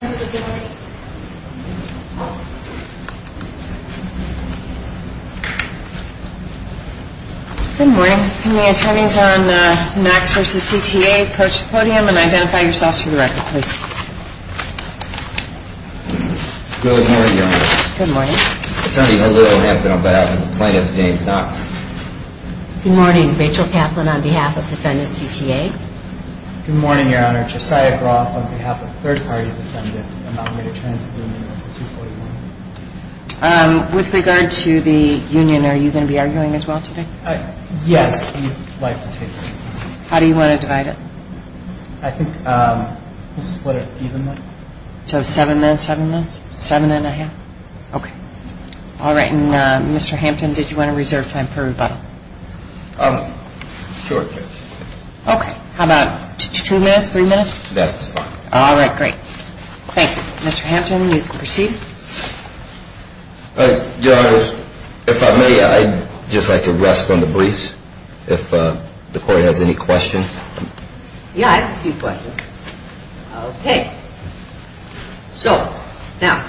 Good morning. Can the attorneys on Knox v. CTA approach the podium and identify yourselves for the record, please? Good morning, Your Honor. Good morning. Attorney, hello. I have been on behalf of Plaintiff James Knox. Good morning. Rachel Kaplan on behalf of Defendant CTA. Good morning, Your Honor. Josiah Groff on behalf of Third Party Defendant, I'm not made a transit union under 241. With regard to the union, are you going to be arguing as well today? Yes, we'd like to take some time. How do you want to divide it? I think we'll split it evenly. So seven minutes, seven minutes? Seven and a half? Okay. All right, and Mr. Hampton, did you want to reserve time for rebuttal? Sure, Judge. Okay, how about two minutes, three minutes? That's fine. All right, great. Thank you. Mr. Hampton, you can proceed. Your Honor, if I may, I'd just like to rest on the briefs if the court has any questions. Yeah, I have a few questions. Okay. So, now,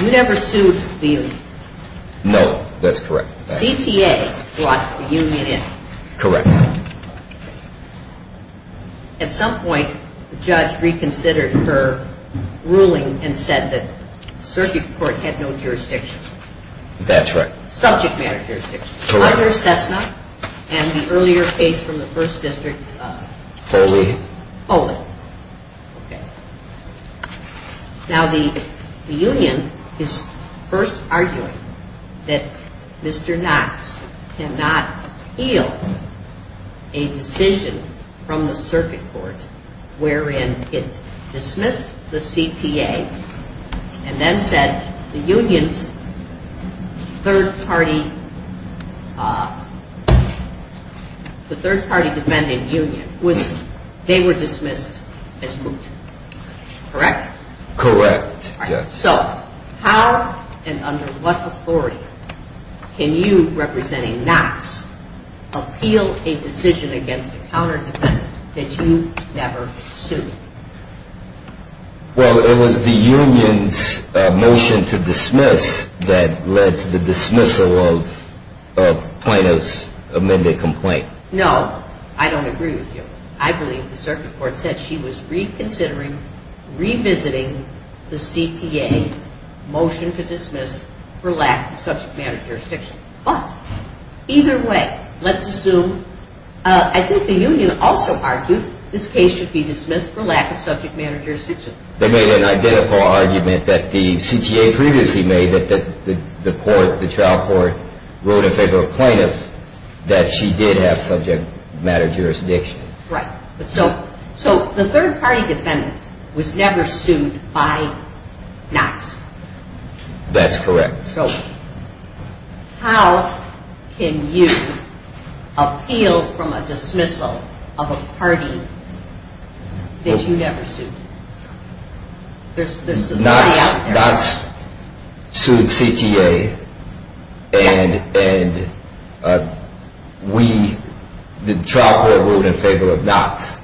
you never sued the union? No, that's correct. CTA brought the union in? Correct. At some point, the judge reconsidered her ruling and said that circuit court had no jurisdiction? That's right. Subject matter jurisdiction? Correct. Under Cessna and the earlier case from the First District? Foley. Foley. Okay. Now, the union is first arguing that Mr. Knox cannot yield a decision from the circuit court wherein it dismissed the CTA and then said the union's third party defending union was, they were dismissed as moot. Correct? Correct, Judge. So, how and under what authority can you, representing Knox, appeal a decision against a counter defendant that you never sued? Well, it was the union's motion to dismiss that led to the dismissal of Plano's amended complaint. No, I don't agree with you. I believe the circuit court said she was reconsidering, revisiting the CTA motion to dismiss for lack of subject matter jurisdiction. But, either way, let's assume, I think the union also argued this case should be dismissed for lack of subject matter jurisdiction. They made an identical argument that the CTA previously made, that the court, the trial court, wrote in favor of Plano that she did have subject matter jurisdiction. Right. So, the third party defendant was never sued by Knox? That's correct. So, how can you appeal from a dismissal of a party that you never sued? Knox sued CTA and we, the trial court wrote in favor of Knox.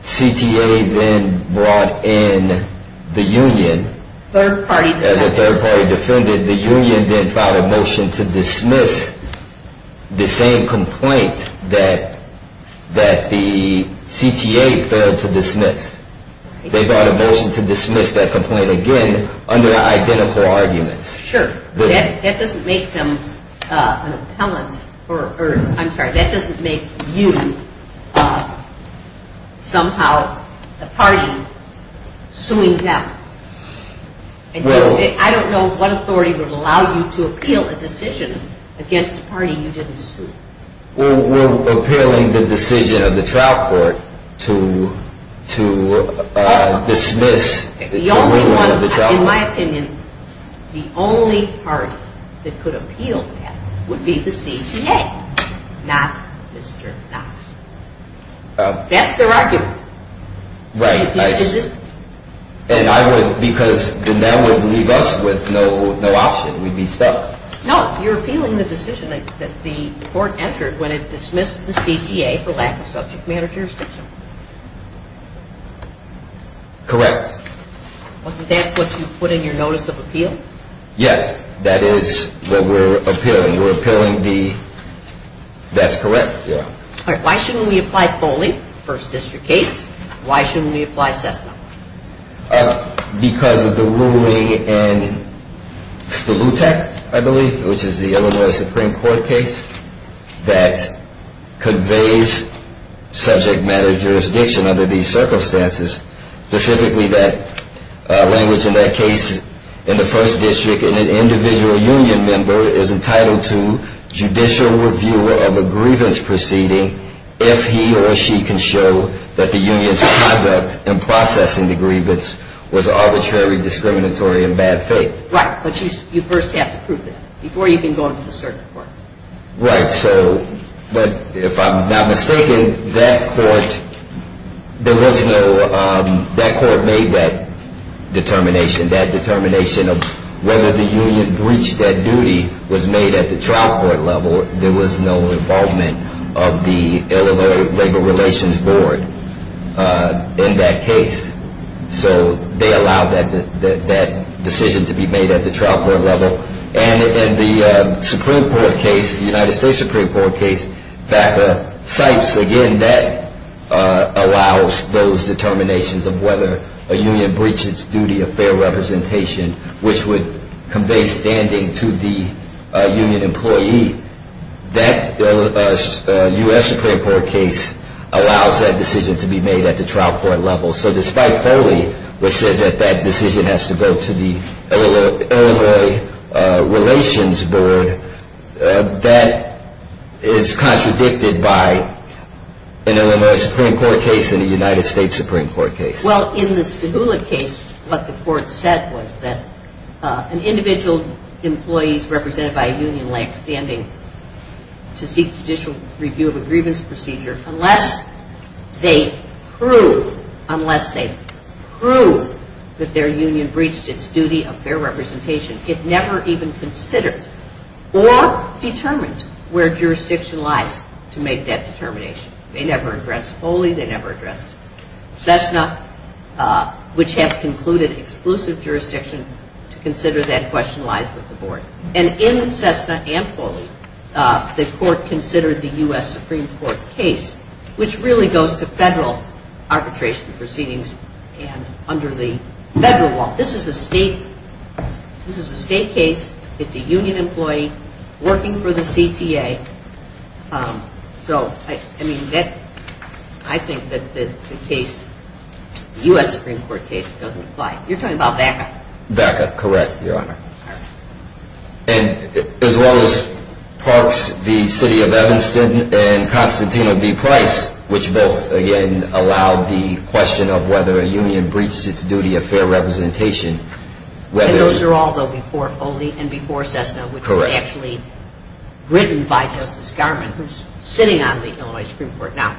CTA then brought in the union as a third party defendant. The union then filed a motion to dismiss the same complaint that the CTA failed to dismiss. They brought a motion to dismiss that complaint again under identical arguments. That doesn't make you, somehow, a party suing them. I don't know what authority would allow you to appeal a decision against a party you didn't sue. We're appealing the decision of the trial court to dismiss the union of the trial court. In my opinion, the only party that could appeal that would be the CTA, not Mr. Knox. That's their argument. Right. Because then that would leave us with no option. We'd be stuck. No, you're appealing the decision that the court entered when it dismissed the CTA for lack of subject matter jurisdiction. Correct. Wasn't that what you put in your notice of appeal? Yes, that is what we're appealing. We're appealing the, that's correct. Why shouldn't we apply Foley, first district case? Why shouldn't we apply Cessna? Because of the ruling in Stolutek, I believe, which is the Illinois Supreme Court case, that conveys subject matter jurisdiction under these circumstances. Specifically, that language in that case, in the first district, an individual union member is entitled to judicial review of a grievance proceeding if he or she can show that the union's conduct in processing the grievance was arbitrary, discriminatory, and bad faith. Right, but you first have to prove that before you can go into the circuit court. Right, so, but if I'm not mistaken, that court, there was no, that court made that determination. That determination of whether the union breached that duty was made at the trial court level. There was no involvement of the Illinois Labor Relations Board in that case. So, they allowed that decision to be made at the trial court level. And in the Supreme Court case, the United States Supreme Court case, FACA, Sipes, again, that allows those determinations of whether a union breached its duty of fair representation, which would convey standing to the union employee. That U.S. Supreme Court case allows that decision to be made at the trial court level. So, despite Foley, which says that that decision has to go to the Illinois Relations Board, that is contradicted by an Illinois Supreme Court case and a United States Supreme Court case. Well, in the Stahula case, what the court said was that an individual employee represented by a union to seek judicial review of a grievance procedure, unless they prove, unless they prove that their union breached its duty of fair representation, it never even considered or determined where jurisdiction lies to make that determination. They never addressed Foley, they never addressed Cessna, which have concluded exclusive jurisdiction to consider that question lies with the board. And in Cessna and Foley, the court considered the U.S. Supreme Court case, which really goes to federal arbitration proceedings and under the federal law. This is a state case. It's a union employee working for the CTA. So, I mean, I think that the case, U.S. Supreme Court case, doesn't apply. You're talking about FACA? FACA, correct, Your Honor. And as well as Parks v. City of Evanston and Constantino v. Price, which both, again, allowed the question of whether a union breached its duty of fair representation. And those are all, though, before Foley and before Cessna, which were actually written by Justice Garment, who's sitting on the Illinois Supreme Court now.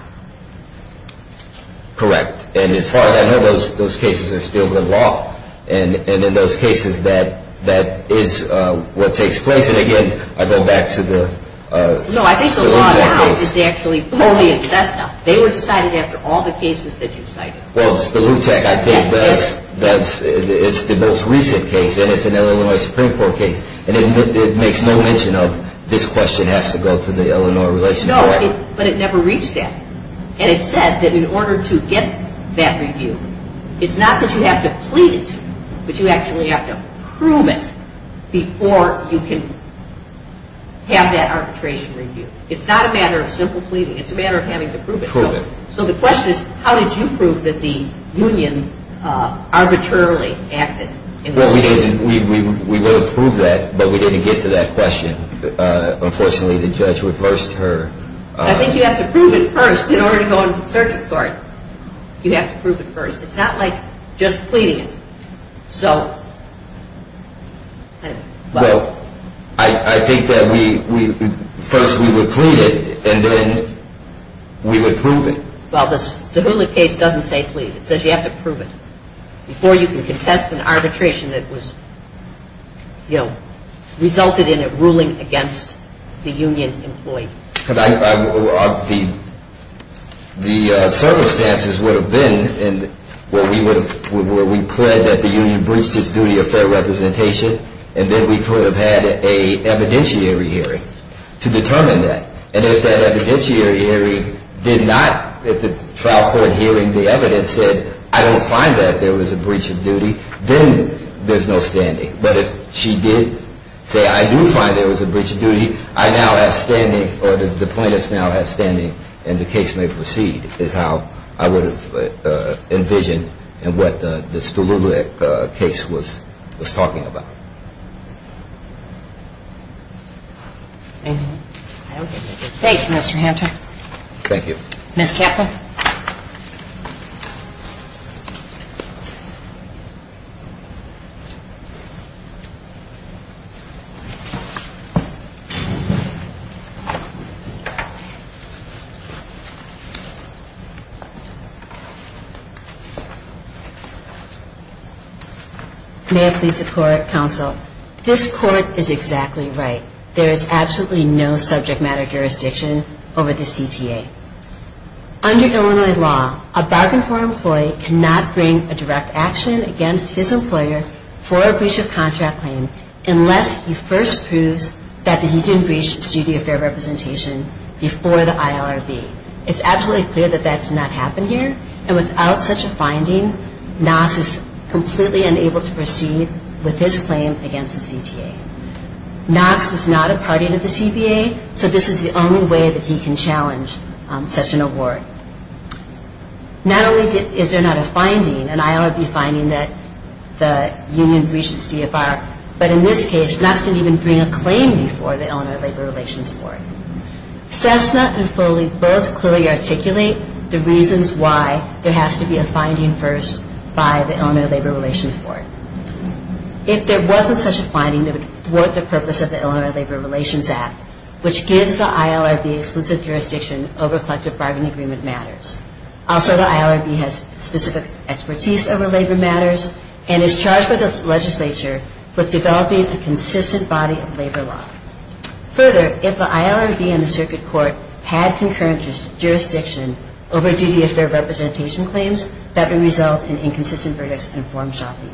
Correct. And as far as I know, those cases are still the law. And in those cases, that is what takes place. And, again, I go back to the Lutec case. No, I think the law now is actually Foley and Cessna. They were decided after all the cases that you cited. Well, the Lutec case, it's the most recent case, and it's an Illinois Supreme Court case. And it makes no mention of this question has to go to the Illinois Relations Court. No, but it never reached that. And it said that in order to get that review, it's not that you have to plead it, but you actually have to prove it before you can have that arbitration review. It's not a matter of simple pleading. It's a matter of having to prove it. Prove it. So the question is, how did you prove that the union arbitrarily acted in this case? Well, we would have proved that, but we didn't get to that question. Unfortunately, the judge reversed her. I think you have to prove it first in order to go into the circuit court. You have to prove it first. It's not like just pleading it. Well, I think that first we would plead it, and then we would prove it. Well, the Lutec case doesn't say plead. It says you have to prove it before you can contest an arbitration that resulted in it ruling against the union employee. The circumstances would have been where we pled that the union breached its duty of fair representation, and then we could have had an evidentiary hearing to determine that. And if that evidentiary hearing did not, if the trial court hearing the evidence said, I don't find that there was a breach of duty, then there's no standing. But if she did say, I do find there was a breach of duty, I now have standing, or the plaintiff now has standing, and the case may proceed, is how I would have envisioned and what the Stolulek case was talking about. Thank you, Mr. Hampton. Thank you. Ms. Kaplan. May I please the court, counsel? This court is exactly right. There is absolutely no subject matter jurisdiction over the CTA. Under Illinois law, a bargain floor employee cannot bring a direct action against his employer for a breach of contract claim unless he first proves that the union breached its duty of fair representation before the ILRB. It's absolutely clear that that did not happen here, and without such a finding, Knox is completely unable to proceed with his claim against the CTA. Knox was not a party to the CTA, so this is the only way that he can challenge such an award. Not only is there not a finding, an ILRB finding that the union breached its DFR, but in this case, Knox didn't even bring a claim before the Illinois Labor Relations Board. Cessna and Foley both clearly articulate the reasons why there has to be a finding first by the Illinois Labor Relations Board. If there wasn't such a finding, it would thwart the purpose of the Illinois Labor Relations Act, which gives the ILRB exclusive jurisdiction over collective bargain agreement matters. Also, the ILRB has specific expertise over labor matters and is charged by the legislature with developing a consistent body of labor law. Further, if the ILRB and the circuit court had concurrent jurisdiction over duty of fair representation claims, that would result in inconsistent verdicts and form shopping.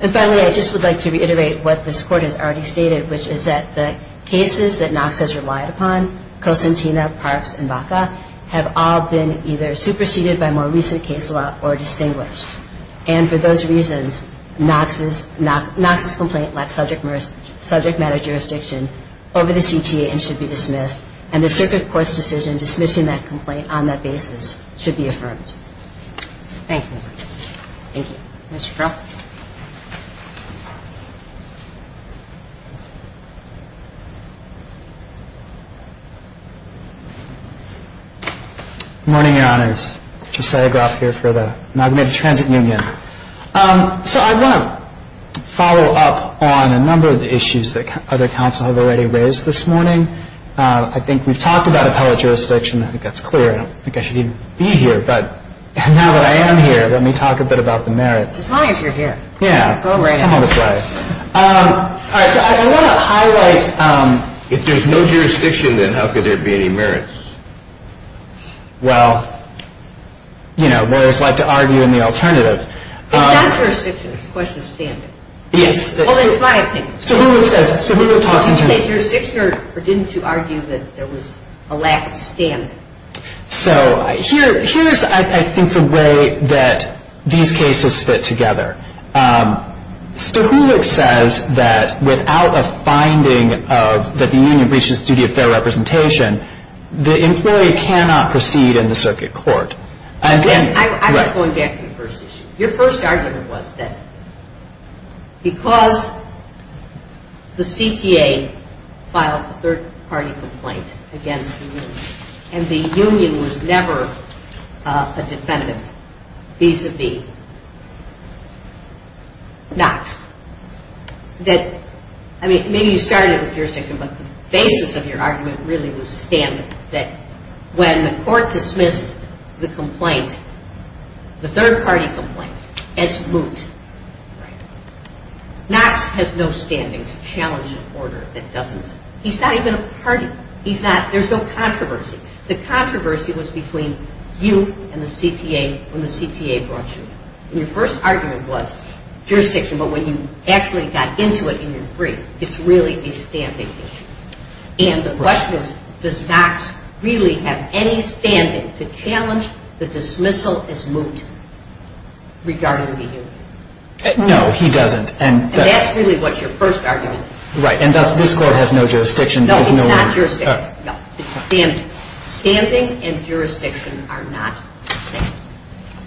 And finally, I just would like to reiterate what this Court has already stated, which is that the cases that Knox has relied upon, Cosentino, Parks, and Baca, have all been either superseded by more recent case law or distinguished. And for those reasons, Knox's complaint lacks subject matter jurisdiction over the CTA and should be dismissed, and the circuit court's decision dismissing that complaint on that basis should be affirmed. Thank you. Thank you. Mr. Crow? Good morning, Your Honors. Josiah Groff here for the Magnet Transit Union. So I want to follow up on a number of the issues that other counsel have already raised this morning. I think we've talked about appellate jurisdiction. I think that's clear. I don't think I should even be here. But now that I am here, let me talk a bit about the merits. As long as you're here. Yeah. Go right ahead. Come on this way. All right. So I want to highlight. If there's no jurisdiction, then how could there be any merits? Well, you know, lawyers like to argue in the alternative. It's not jurisdiction. It's a question of standard. Yes. Well, that's my opinion. Stahuluk says, Stahuluk talks into it. Did you say jurisdiction or didn't you argue that there was a lack of standard? So here's, I think, the way that these cases fit together. Stahuluk says that without a finding that the union breaches the duty of fair representation, the employee cannot proceed in the circuit court. I'm not going back to the first issue. Your first argument was that because the CTA filed a third-party complaint against the union and the union was never a defendant vis-a-vis Knox, that, I mean, maybe you started with jurisdiction, but the basis of your argument really was standard. When the court dismissed the complaint, the third-party complaint, as moot, Knox has no standing to challenge an order that doesn't, he's not even a party. He's not, there's no controversy. The controversy was between you and the CTA when the CTA brought you in. Your first argument was jurisdiction, but when you actually got into it in your brief, it's really a standing issue. And the question is, does Knox really have any standing to challenge the dismissal as moot regarding the union? No, he doesn't. And that's really what your first argument is. Right, and thus this court has no jurisdiction. No, it's not jurisdiction. No, it's standing. Standing and jurisdiction are not the same.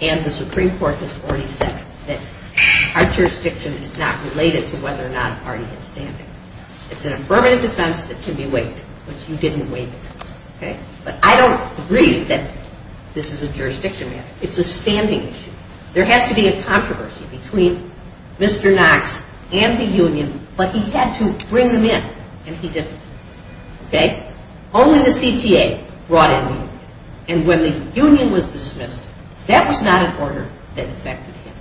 And the Supreme Court has already said that our jurisdiction is not related to whether or not a party has standing. It's an affirmative defense that can be waived, but you didn't waive it. Okay? But I don't agree that this is a jurisdiction matter. It's a standing issue. There has to be a controversy between Mr. Knox and the union, but he had to bring them in, and he didn't. Okay? Only the CTA brought in moot. And when the union was dismissed, that was not an order that affected him.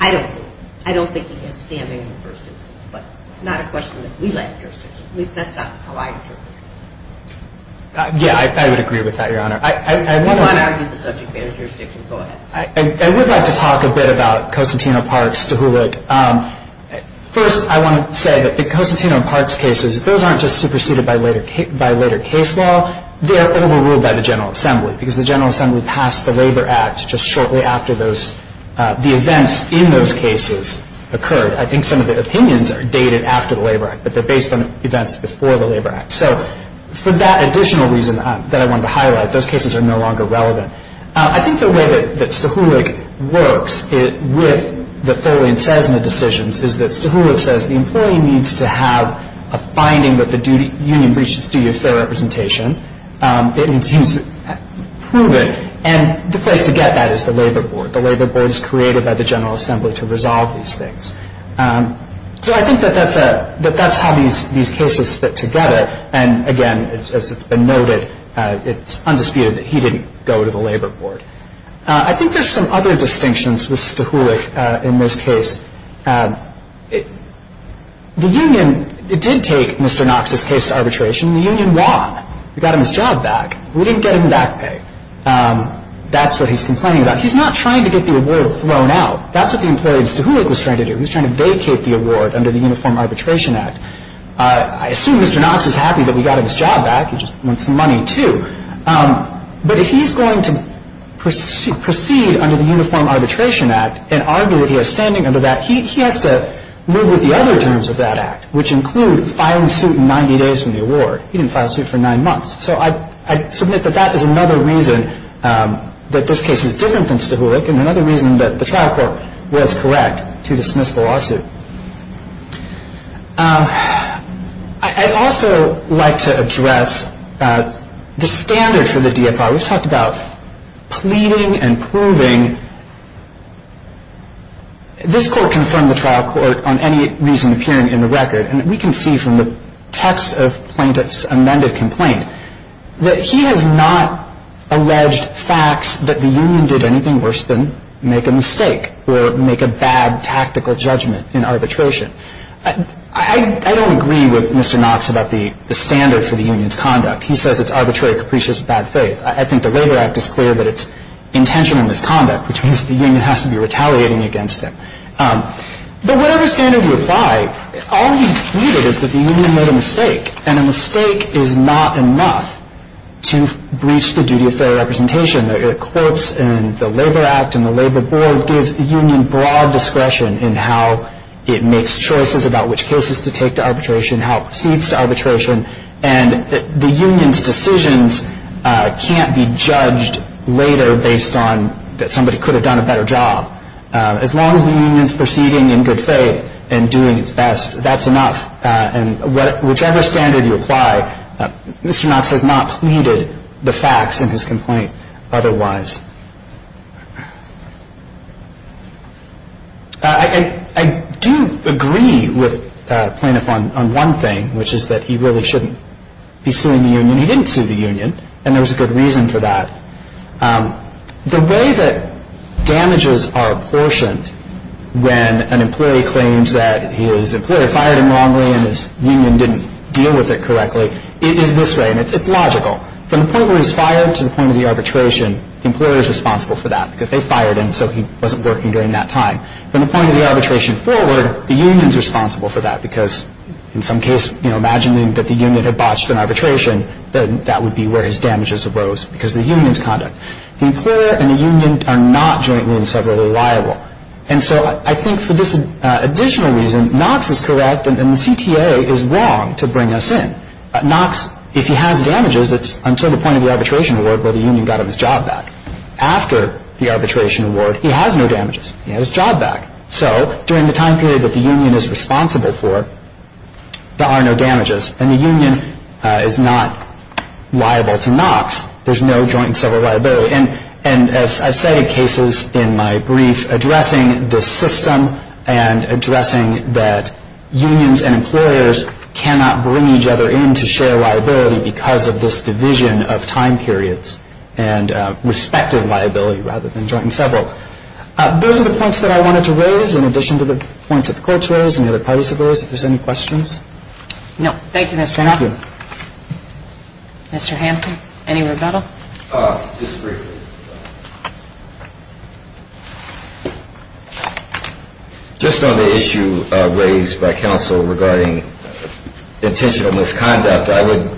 I don't agree. I don't think he has standing in the first instance, but it's not a question that we like jurisdiction. At least that's not how I interpret it. Yeah, I would agree with that, Your Honor. If you want to argue the subject matter of jurisdiction, go ahead. I would like to talk a bit about Cosentino-Parks-Stuhulik. First, I want to say that the Cosentino-Parks cases, those aren't just superseded by later case law. They're overruled by the General Assembly because the General Assembly passed the Labor Act just shortly after the events in those cases occurred. I think some of the opinions are dated after the Labor Act, but they're based on events before the Labor Act. So for that additional reason that I wanted to highlight, those cases are no longer relevant. I think the way that Stuhulik works with the Foley and Cessna decisions is that Stuhulik says the employee needs to have a finding that the union breached its duty of fair representation. It seems proven, and the place to get that is the Labor Board. The Labor Board is created by the General Assembly to resolve these things. So I think that that's how these cases fit together. And, again, as it's been noted, it's undisputed that he didn't go to the Labor Board. I think there's some other distinctions with Stuhulik in this case. The union did take Mr. Knox's case to arbitration, and the union won. We got him his job back. We didn't get him back pay. That's what he's complaining about. He's not trying to get the award thrown out. That's what the employee in Stuhulik was trying to do. He was trying to vacate the award under the Uniform Arbitration Act. I assume Mr. Knox is happy that we got him his job back. He just wants some money, too. But if he's going to proceed under the Uniform Arbitration Act and argue that he has standing under that, he has to live with the other terms of that act, which include filing suit 90 days from the award. He didn't file suit for nine months. So I submit that that is another reason that this case is different than Stuhulik I'd also like to address the standard for the DFR. We've talked about pleading and proving. This court confirmed the trial court on any reason appearing in the record, and we can see from the text of plaintiff's amended complaint that he has not alleged facts that the union did anything worse than make a mistake or make a bad tactical judgment in arbitration. I don't agree with Mr. Knox about the standard for the union's conduct. He says it's arbitrary, capricious, bad faith. I think the Labor Act is clear that it's intentional misconduct, which means the union has to be retaliating against him. But whatever standard you apply, all he's pleaded is that the union made a mistake, and a mistake is not enough to breach the duty of fair representation. The courts and the Labor Act and the Labor Board give the union broad discretion in how it makes choices about which cases to take to arbitration, how it proceeds to arbitration. And the union's decisions can't be judged later based on that somebody could have done a better job. As long as the union's proceeding in good faith and doing its best, that's enough. And whichever standard you apply, Mr. Knox has not pleaded the facts in his complaint otherwise. I do agree with the plaintiff on one thing, which is that he really shouldn't be suing the union. He didn't sue the union, and there was a good reason for that. The way that damages are apportioned when an employee claims that his employer fired him wrongly and his union didn't deal with it correctly, it is this way, and it's logical. From the point where he's fired to the point of the arbitration, the employer is responsible for that because they fired him, so he wasn't working during that time. From the point of the arbitration forward, the union's responsible for that because in some case, you know, imagining that the union had botched an arbitration, that would be where his damages arose because of the union's conduct. The employer and the union are not jointly and separately liable. And so I think for this additional reason, Knox is correct, and the CTA is wrong to bring us in. Knox, if he has damages, it's until the point of the arbitration award where the union got him his job back. After the arbitration award, he has no damages. He has his job back. So during the time period that the union is responsible for, there are no damages, and the union is not liable to Knox. There's no joint and several liability. And as I've cited cases in my brief addressing this system and addressing that unions and employers cannot bring each other in to share liability because of this division of time periods and respective liability rather than joint and several. Those are the points that I wanted to raise in addition to the points that the courts raised and the other parties opposed, if there's any questions. No. Thank you, Mr. Hanna. Mr. Hampton, any rebuttal? Just briefly. Just on the issue raised by counsel regarding intentional misconduct, I would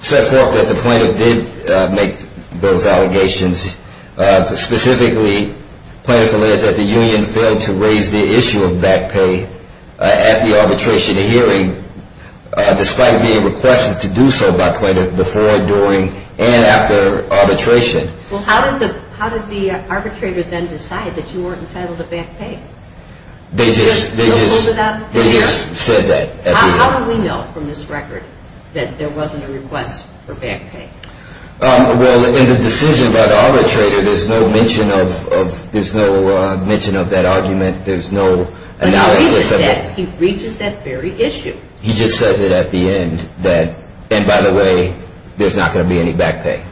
set forth that the plaintiff did make those allegations. Specifically, plaintiff alleged that the union failed to raise the issue of back pay at the arbitration hearing despite being requested to do so by plaintiff before, during, and after arbitration. Well, how did the arbitrator then decide that you were entitled to back pay? They just said that. How do we know from this record that there wasn't a request for back pay? Well, in the decision by the arbitrator, there's no mention of that argument. There's no analysis of it. But he reaches that very issue. He just says it at the end that, and by the way, there's not going to be any back pay.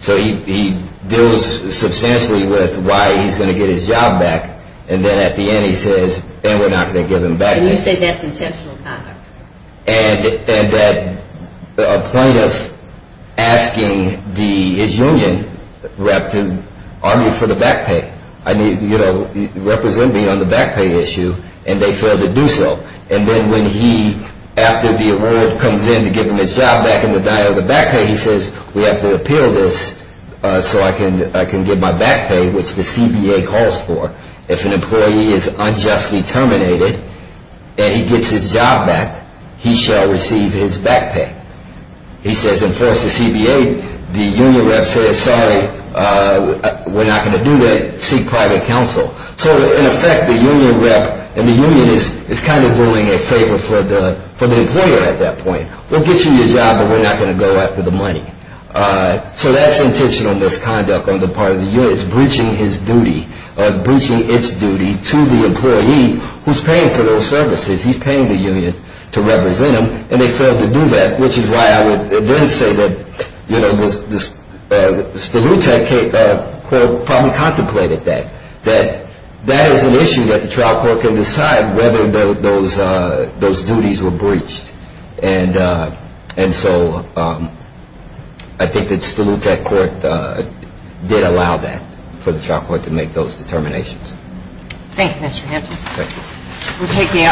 So he deals substantially with why he's going to get his job back, and then at the end he says, and we're not going to give him back. And you say that's intentional conduct. And that a plaintiff asking his union rep to argue for the back pay. I mean, you know, represent me on the back pay issue, and they failed to do so. And then when he, after the award comes in to give him his job back in the diet of the back pay, he says, we have to appeal this so I can get my back pay, which the CBA calls for. If an employee is unjustly terminated and he gets his job back, he shall receive his back pay. He says, enforce the CBA. The union rep says, sorry, we're not going to do that. Seek private counsel. So, in effect, the union rep and the union is kind of doing a favor for the employer at that point. We'll get you your job, but we're not going to go after the money. So that's intentional misconduct on the part of the union. It's breaching his duty or breaching its duty to the employee who's paying for those services. He's paying the union to represent him, and they failed to do that, which is why I would then say that, you know, Stolutec probably contemplated that, that that is an issue that the trial court can decide whether those duties were breached. And so I think that Stolutec court did allow that for the trial court to make those determinations. Thank you, Mr. Hampton. Thank you. We'll take the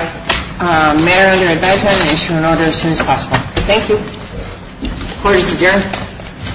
matter under advisement and issue an order as soon as possible. Thank you. Order, Mr. Jarrett.